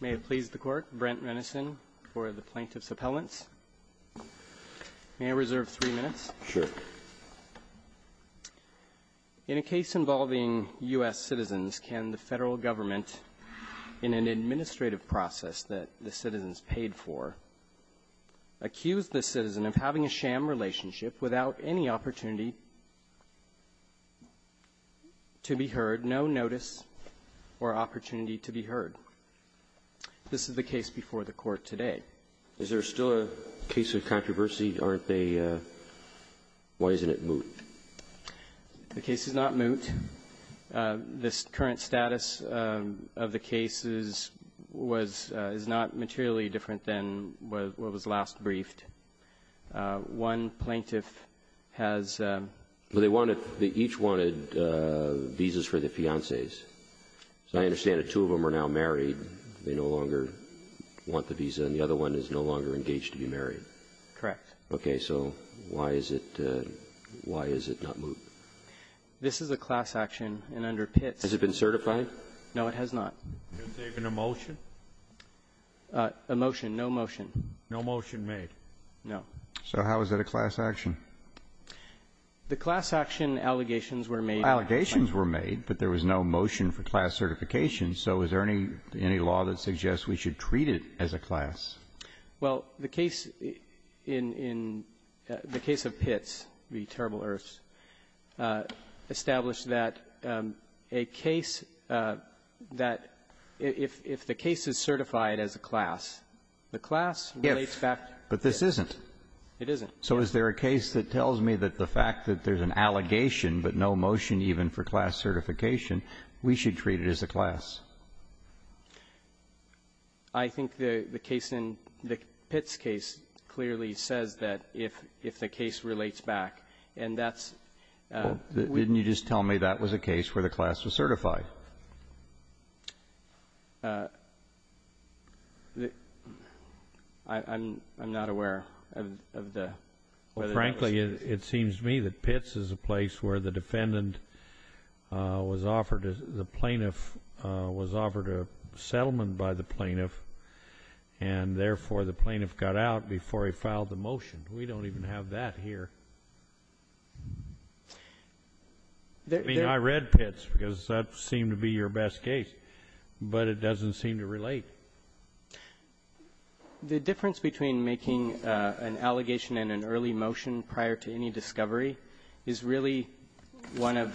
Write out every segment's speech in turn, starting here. May it please the Court, Brent Renison for the Plaintiff's Appellants. May I reserve three minutes? Sure. In a case involving U.S. citizens, can the Federal Government, in an administrative process that the citizens paid for, accuse the citizen of having a sham relationship without any opportunity to be heard, without no notice or opportunity to be heard? This is the case before the Court today. Is there still a case of controversy? Aren't they? Why isn't it moot? The case is not moot. This current status of the cases was not materially different than what was last briefed. One plaintiff has ---- They each wanted visas for the fiancés. So I understand that two of them are now married. They no longer want the visa, and the other one is no longer engaged to be married. Correct. Okay. So why is it not moot? This is a class action, and under Pitts ---- Has it been certified? No, it has not. Is there even a motion? A motion. No motion. No motion made. No. So how is that a class action? The class action allegations were made. Allegations were made, but there was no motion for class certification. So is there any law that suggests we should treat it as a class? Well, the case in the case of Pitts v. Terrible Earths established that a case that if the case is certified as a class, the class relates back to Pitts. But this isn't. It isn't. So is there a case that tells me that the fact that there's an allegation but no motion even for class certification, we should treat it as a class? I think the case in the Pitts case clearly says that if the case relates back, and that's ---- Didn't you just tell me that was a case where the class was certified? Well, I'm not aware of the ---- Frankly, it seems to me that Pitts is a place where the defendant was offered, the plaintiff was offered a settlement by the plaintiff, and therefore the plaintiff got out before he filed the motion. We don't even have that here. I mean, I read Pitts because that seemed to be your best case, but it doesn't seem to relate. The difference between making an allegation and an early motion prior to any discovery is really one of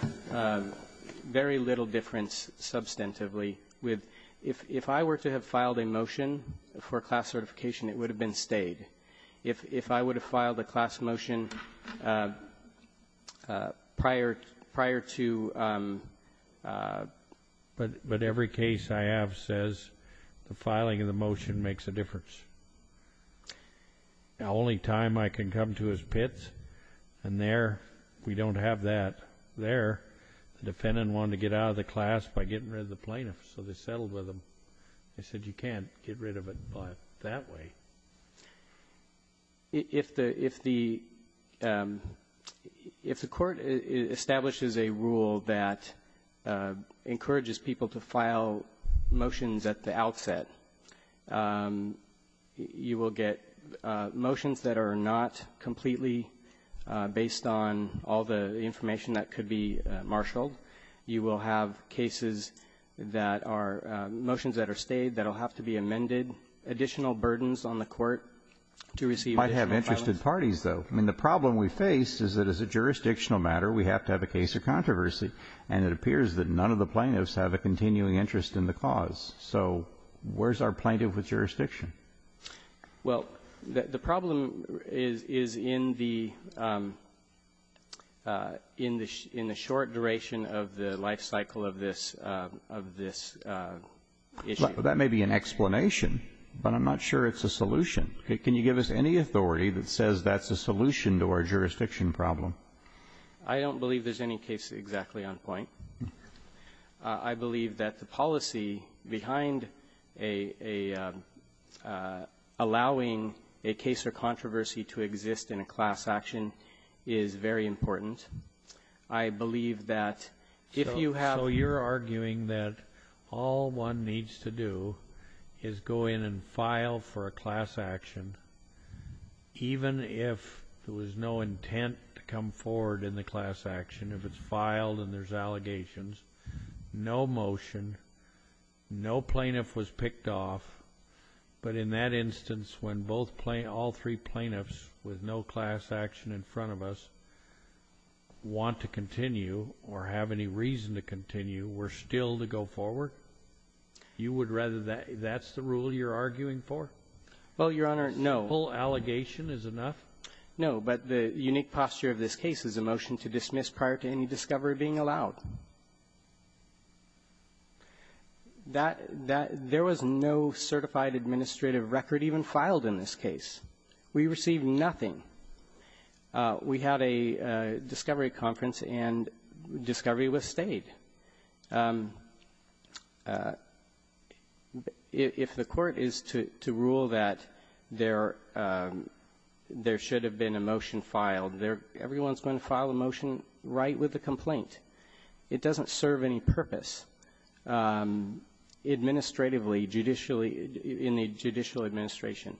very little difference substantively with if I were to have filed a motion for class certification, it would have been stayed. If I would have filed a class motion prior to... But every case I have says the filing of the motion makes a difference. The only time I can come to is Pitts, and there we don't have that. There, the defendant wanted to get out of the class by getting rid of the plaintiff, so they settled with him. I said you can't get rid of it by that way. If the ---- if the Court establishes a rule that encourages people to file motions at the outset, you will get motions that are not completely based on all the information that could be marshaled. You will have cases that are ---- motions that are stayed that will have to be amended, additional burdens on the Court to receive additional files. You might have interested parties, though. I mean, the problem we face is that as a jurisdictional matter, we have to have a case of controversy, and it appears that none of the plaintiffs have a continuing interest in the cause. So where's our plaintiff with jurisdiction? Well, the problem is in the short duration of the life cycle of this issue. That may be an explanation, but I'm not sure it's a solution. Can you give us any authority that says that's a solution to our jurisdiction problem? I don't believe there's any case exactly on point. I believe that the policy behind a ---- allowing a case or controversy to exist in a class action is very important. I believe that if you have ---- So you're arguing that all one needs to do is go in and file for a class action, even if there was no intent to come forward in the class action. If it's filed and there's allegations, no motion, no plaintiff was picked off. But in that instance, when both plaintiffs ---- all three plaintiffs with no class action in front of us want to continue or have any reason to continue, we're still to go forward? You would rather that ---- that's the rule you're arguing for? Well, Your Honor, no. A simple allegation is enough? No. But the unique posture of this case is a motion to dismiss prior to any discovery being allowed. That ---- there was no certified administrative record even filed in this case. We received nothing. We had a discovery conference, and discovery was stayed. If the Court is to rule that there should have been a motion filed, everyone's going to file a motion right with the complaint. It doesn't serve any purpose administratively, judicially, in the judicial administration.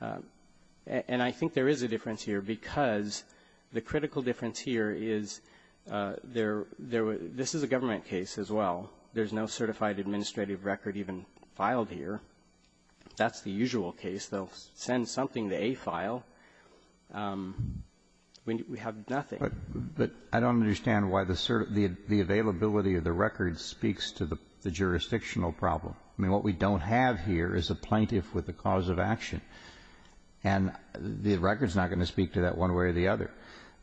And I think there is a difference here because the critical difference here is there were ---- this is a government case as well. There's no certified administrative record even filed here. That's the usual case. They'll send something to AFILE. We have nothing. But I don't understand why the availability of the record speaks to the jurisdictional problem. I mean, what we don't have here is a plaintiff with a cause of action. And the record's not going to speak to that one way or the other.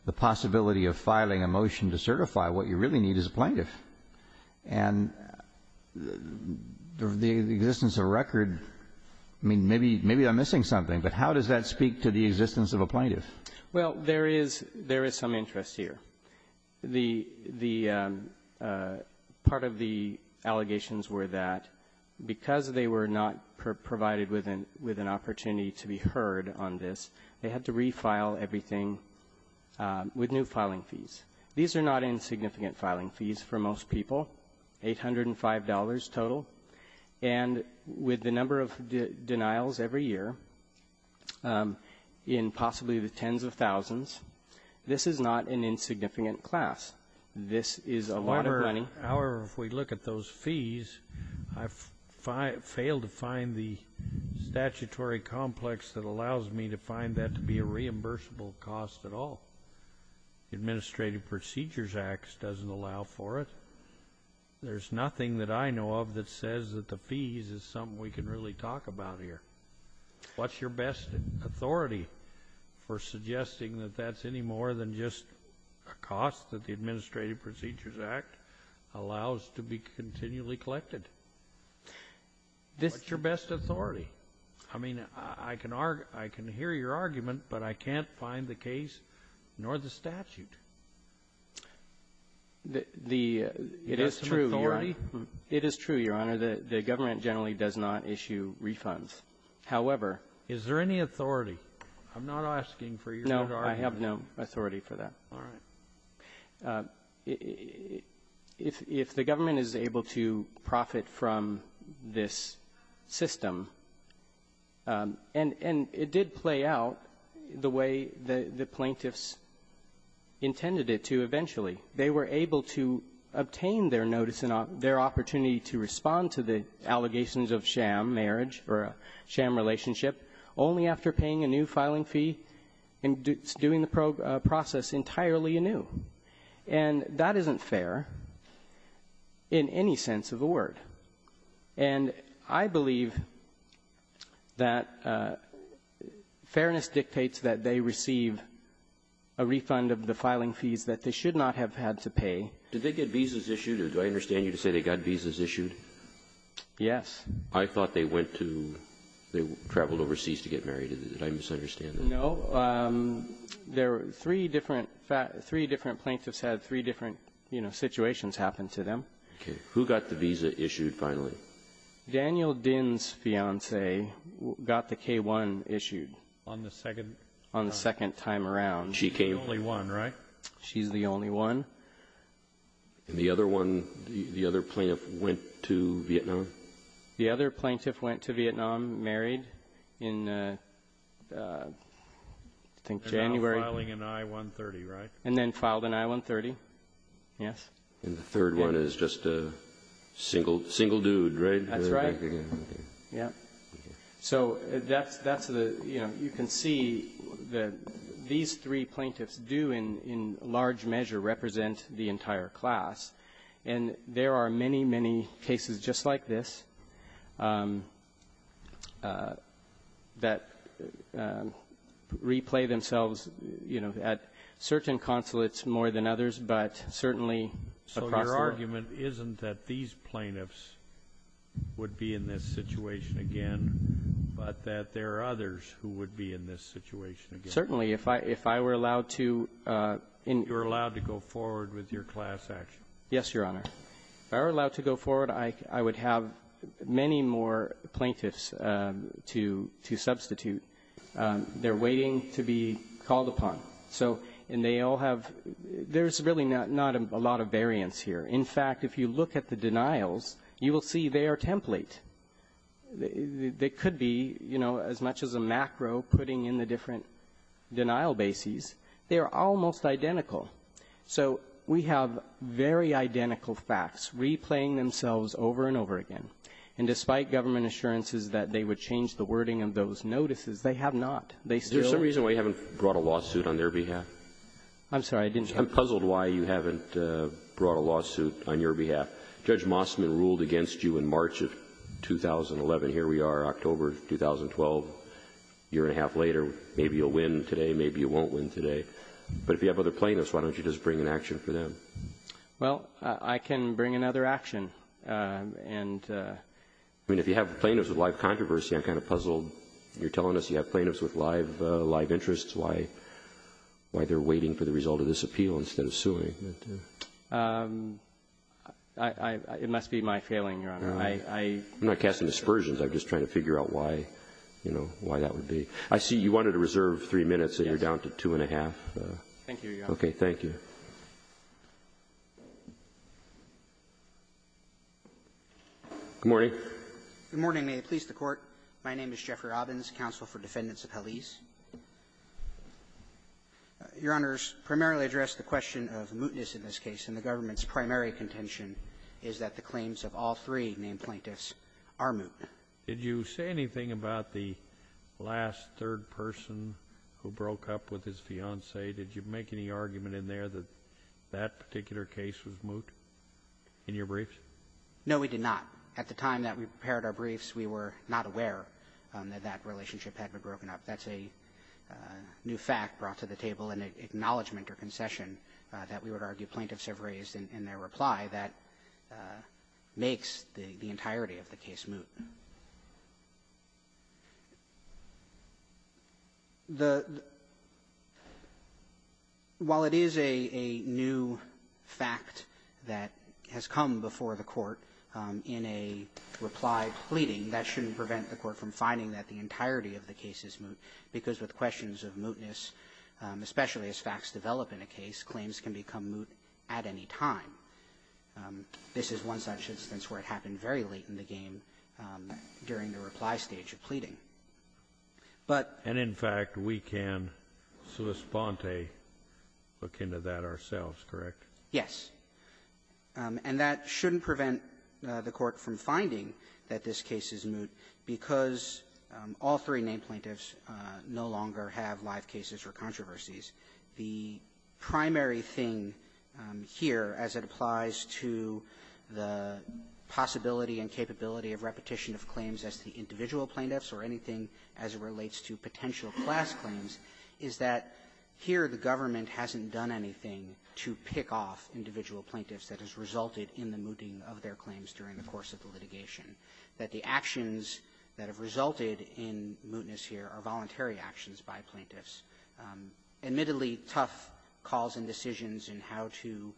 But the possibility of filing a motion to certify what you really need is a plaintiff. And the existence of a record, I mean, maybe I'm missing something, but how does that speak to the existence of a plaintiff? Well, there is some interest here. The part of the allegations were that because they were not provided with an opportunity to be heard on this, they had to refile everything with new filing fees. These are not insignificant filing fees for most people, $805 total. And with the number of denials every year, in possibly the tens of thousands, this is not an insignificant class. This is a lot of money. However, if we look at those fees, I've failed to find the statutory complex that allows me to find that to be a reimbursable cost at all. The Administrative Procedures Act doesn't allow for it. There's nothing that I know of that says that the fees is something we can really talk about here. What's your best authority for suggesting that that's any more than just a cost that the Administrative Procedures Act allows to be continually collected? What's your best authority? I mean, I can hear your argument, but I can't find the case nor the statute. Is there some authority? It is true, Your Honor. It is true, Your Honor, that the government generally does not issue refunds. However --" Is there any authority? I'm not asking for your authority. I have no authority for that. All right. If the government is able to profit from this system, and it did play out the way the plaintiffs intended it to eventually. They were able to obtain their notice and their opportunity to respond to the allegations of sham marriage or a sham relationship only after paying a new filing fee and doing the process entirely anew. And that isn't fair in any sense of the word. And I believe that fairness dictates that they receive a refund of the filing fees that they should not have had to pay. Did they get visas issued? Or do I understand you to say they got visas issued? Yes. I thought they went to or traveled overseas to get married. Did I misunderstand that? No. There were three different plaintiffs had three different, you know, situations happen to them. Okay. Who got the visa issued finally? Daniel Dinh's fiancee got the K-1 issued. On the second time? On the second time around. She's the only one, right? She's the only one. And the other one, the other plaintiff went to Vietnam? The other plaintiff went to Vietnam, married in, I think, January. And now filing an I-130, right? And then filed an I-130, yes. And the third one is just a single dude, right? That's right. Yeah. So that's the, you know, you can see that these three plaintiffs do in large measure represent the entire class. And there are many, many cases just like this that replay themselves, you know, at certain consulates more than others, but certainly across the board. So your argument isn't that these plaintiffs would be in this situation again, but that there are others who would be in this situation again? Certainly. If I were allowed to go forward with your class action. Yes, Your Honor. If I were allowed to go forward, I would have many more plaintiffs to substitute they're waiting to be called upon. So and they all have – there's really not a lot of variance here. In fact, if you look at the denials, you will see they are template. They could be, you know, as much as a macro putting in the different denial bases, they are almost identical. So we have very identical facts replaying themselves over and over again. And despite government assurances that they would change the wording of those notices, they have not. They still – Is there some reason why you haven't brought a lawsuit on their behalf? I'm sorry. I didn't – I'm puzzled why you haven't brought a lawsuit on your behalf. Judge Mossman ruled against you in March of 2011. Here we are, October of 2012, a year and a half later. Maybe you'll win today. Maybe you won't win today. But if you have other plaintiffs, why don't you just bring an action for them? Well, I can bring another action. And – I mean, if you have plaintiffs with live controversy, I'm kind of puzzled. You're telling us you have plaintiffs with live interests, why they're waiting for the result of this appeal instead of suing. It must be my failing, Your Honor. I'm not casting dispersions. I'm just trying to figure out why, you know, why that would be. I see you wanted to reserve three minutes, and you're down to two and a half. Thank you, Your Honor. Okay. Thank you. Good morning. Good morning. May it please the Court. My name is Jeffrey Robbins, counsel for defendants of Hallease. Your Honors, primarily address the question of mootness in this case, and the government's primary contention is that the claims of all three named plaintiffs are moot. Did you say anything about the last third person who broke up with his fiancée? Did you make any argument in there that that particular case was moot in your briefs? No, we did not. At the time that we prepared our briefs, we were not aware that that relationship had been broken up. That's a new fact brought to the table, an acknowledgment or concession that we would argue plaintiffs have raised in their reply that makes the entirety of the case moot. The — while it is a new fact that has come before the Court in a reply pleading, that shouldn't prevent the Court from finding that the entirety of the case is moot, because with questions of mootness, especially as facts develop in a case, claims can become moot at any time. This is one such instance where it happened very late in the game during the reply stage of pleading. But — And, in fact, we can sui sponte, look into that ourselves, correct? Yes. And that shouldn't prevent the Court from finding that this case is moot, because all three named plaintiffs no longer have live cases or controversies. The primary thing here, as it applies to the possibility and capability of repetition of claims as to the individual plaintiffs or anything as it relates to potential class claims, is that here the government hasn't done anything to pick off individual plaintiffs that has resulted in the mooting of their claims during the course of the litigation. That the actions that have resulted in mootness here are voluntary actions by plaintiffs. Admittedly, tough calls and decisions in how to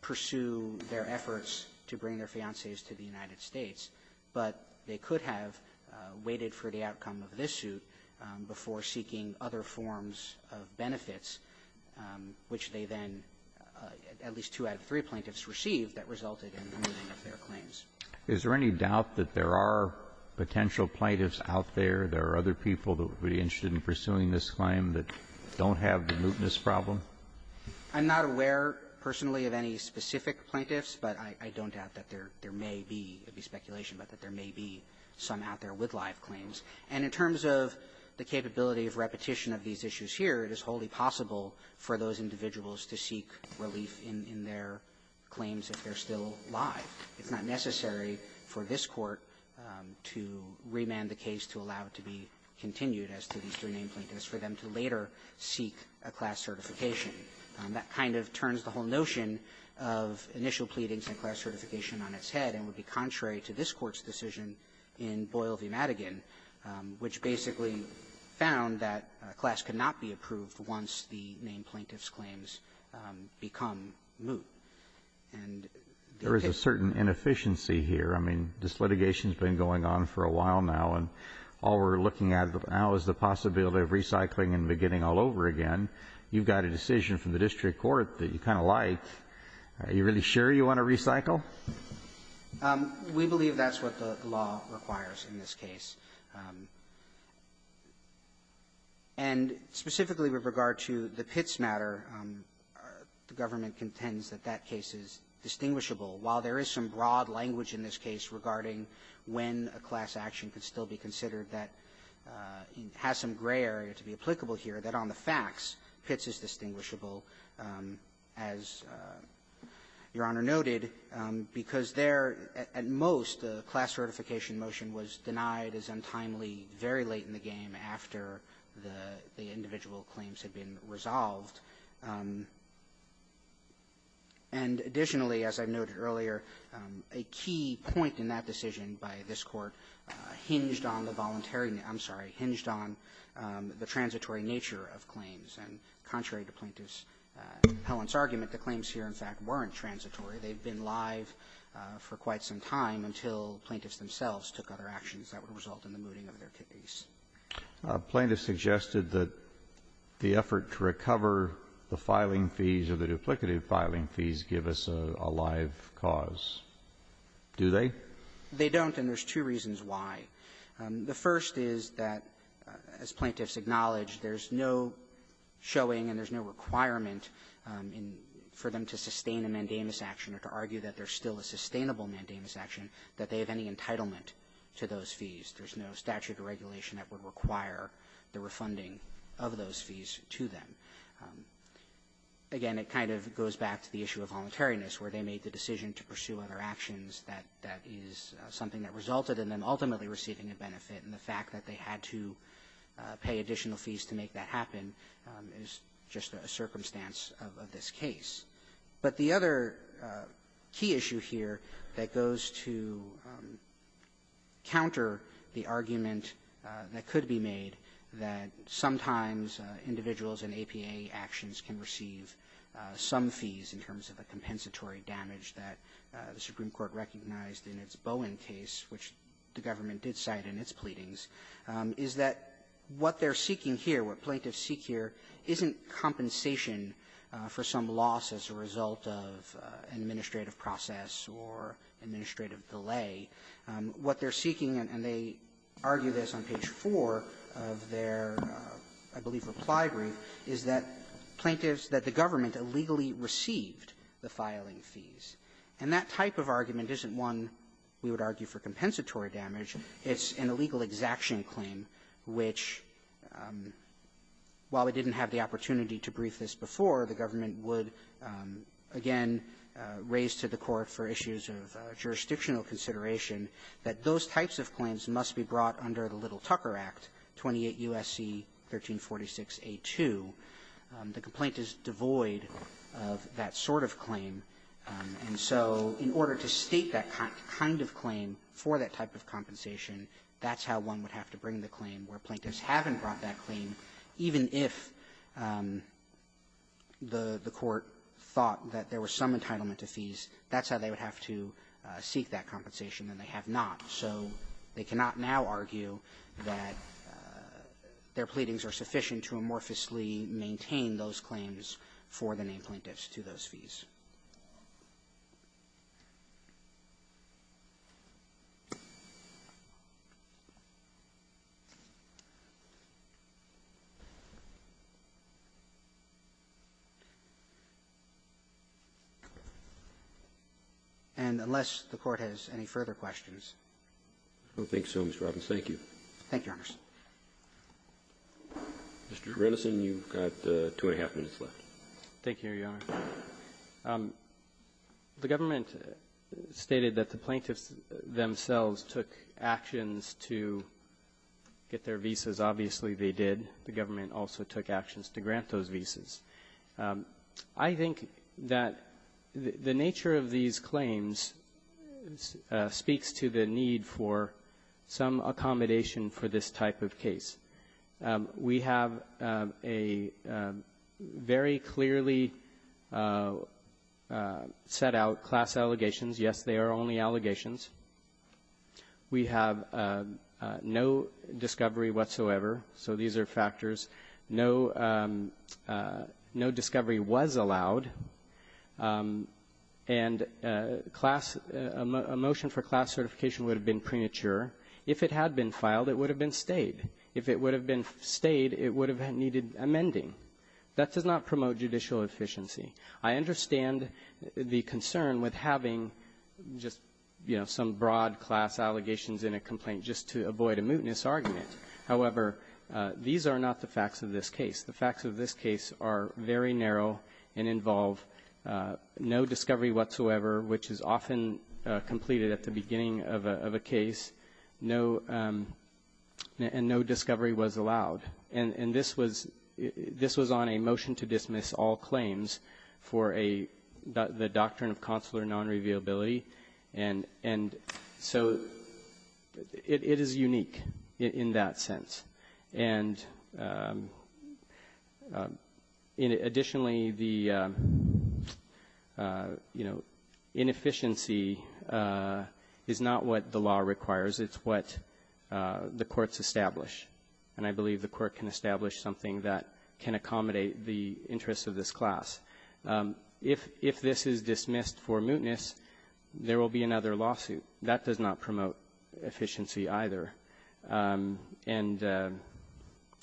pursue their efforts to bring their fiancées to the United States, but they could have waited for the outcome of this suit before seeking other forms of benefits, which they then, at least two out of three plaintiffs, received that resulted in the mooting of their claims. Is there any doubt that there are potential plaintiffs out there, there are other people that would be interested in pursuing this claim that don't have the mootness problem? I'm not aware personally of any specific plaintiffs, but I don't doubt that there may be. It would be speculation, but that there may be some out there with live claims. And in terms of the capability of repetition of these issues here, it is wholly possible for those individuals to seek relief in their claims if they're still live. It's not necessary for this Court to remand the case to allow it to be continued as to these three named plaintiffs for them to later seek a class certification. That kind of turns the whole notion of initial pleadings and class certification on its head and would be contrary to this Court's decision in Boyle v. Madigan, which basically found that a class could not be approved once the named plaintiff's claims become moot. And the case — There is a certain inefficiency here. I mean, this litigation has been going on for a while now, and all we're looking at now is the possibility of recycling and beginning all over again. You've got a decision from the district court that you kind of like. Are you really sure you want to recycle? We believe that's what the law requires in this case. That case is distinguishable. While there is some broad language in this case regarding when a class action could still be considered that has some gray area to be applicable here, that on the facts Pitts is distinguishable, as Your Honor noted, because there, at most, the class certification motion was denied as untimely very late in the game after the individual claims had been resolved. And additionally, as I noted earlier, a key point in that decision by this Court hinged on the voluntary — I'm sorry, hinged on the transitory nature of claims. And contrary to Plaintiff's repellent's argument, the claims here, in fact, weren't transitory. They had been live for quite some time until plaintiffs themselves took other actions that would result in the mooting of their kidneys. Kennedy. Plaintiff suggested that the effort to recover the filing fees or the duplicative filing fees give us a live cause, do they? They don't, and there's two reasons why. The first is that, as Plaintiffs acknowledge, there's no showing and there's no requirement for them to sustain a mandamus action or to argue that there's still a sustainable mandamus action, that they have any entitlement to those fees. There's no statute or regulation that would require the refunding of those fees to them. Again, it kind of goes back to the issue of voluntariness, where they made the decision to pursue other actions that is something that resulted in them ultimately receiving a benefit, and the fact that they had to pay additional fees to make that happen is just a circumstance of this case. But the other key issue here that goes to counter the claim that the plaintiffs made or the argument that could be made that sometimes individuals in APA actions can receive some fees in terms of a compensatory damage that the Supreme Court recognized in its Bowen case, which the government did cite in its pleadings, is that what they're seeking here, what plaintiffs seek here, isn't compensation for some loss as a result of an administrative process or administrative delay. What they're seeking, and they argue this on page 4 of their, I believe, reply brief, is that plaintiffs, that the government illegally received the filing fees. And that type of argument isn't one we would argue for compensatory damage. It's an illegal exaction claim which, while we didn't have the opportunity to brief this before, the government would, again, raise to the Court for issues of jurisdictional consideration, that those types of claims must be brought under the Little-Tucker Act, 28 U.S.C. 1346a2. The complaint is devoid of that sort of claim. And so in order to state that kind of claim for that type of compensation, that's how one would have to bring the claim where plaintiffs haven't brought that claim, even if the Court thought that there was some entitlement to fees. That's how they would have to seek that compensation, and they have not. So they cannot now argue that their pleadings are sufficient to amorphously maintain those claims for the named plaintiffs to those fees. And unless the Court has any further questions. Roberts. Thank you, Your Honor. Mr. Renneson, you've got two and a half minutes left. Thank you, Your Honor. The government stated that the plaintiffs themselves took actions to get their visas. Obviously, they did. The government also took actions to grant those visas. I think that the nature of these claims speaks to the need for some accommodation for this type of case. We have a very clearly set out class allegations. Yes, they are only allegations. We have no discovery whatsoever. So these are factors. No discovery was allowed. And a motion for class certification would have been premature. If it had been filed, it would have been stayed. If it would have been stayed, it would have needed amending. That does not promote judicial efficiency. I understand the concern with having just, you know, some broad class allegations in a complaint just to avoid a mootness argument. However, these are not the facts of this case. The facts of this case are very narrow and involve no discovery whatsoever, which is often completed at the beginning of a case, and no discovery was allowed. And this was on a motion to dismiss all claims for the doctrine of consular non-revealability. And so it is unique in that sense. And additionally, the, you know, inefficiency is not what the law requires. It's what the courts establish, and I believe the court can establish something that can accommodate the interests of this class. If this is dismissed for mootness, there will be another lawsuit. That does not promote efficiency either. And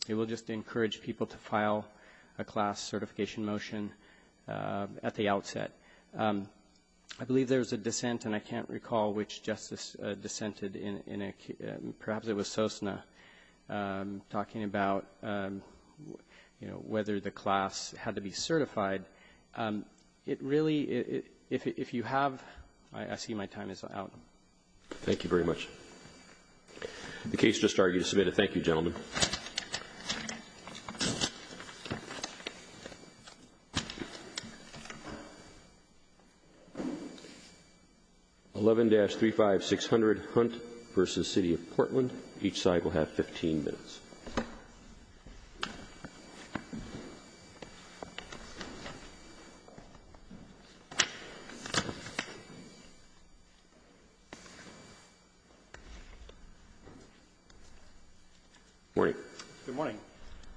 it will just encourage people to file a class certification motion at the outset. I believe there was a dissent, and I can't recall which justice dissented in a case perhaps it was Sosna, talking about, you know, whether the class had to be certified. It really, if you have, I see my time is out. Thank you very much. The case just started. You can submit a thank you, gentlemen. 11-35600 Hunt versus City of Portland. Each side will have 15 minutes. Morning. Good morning.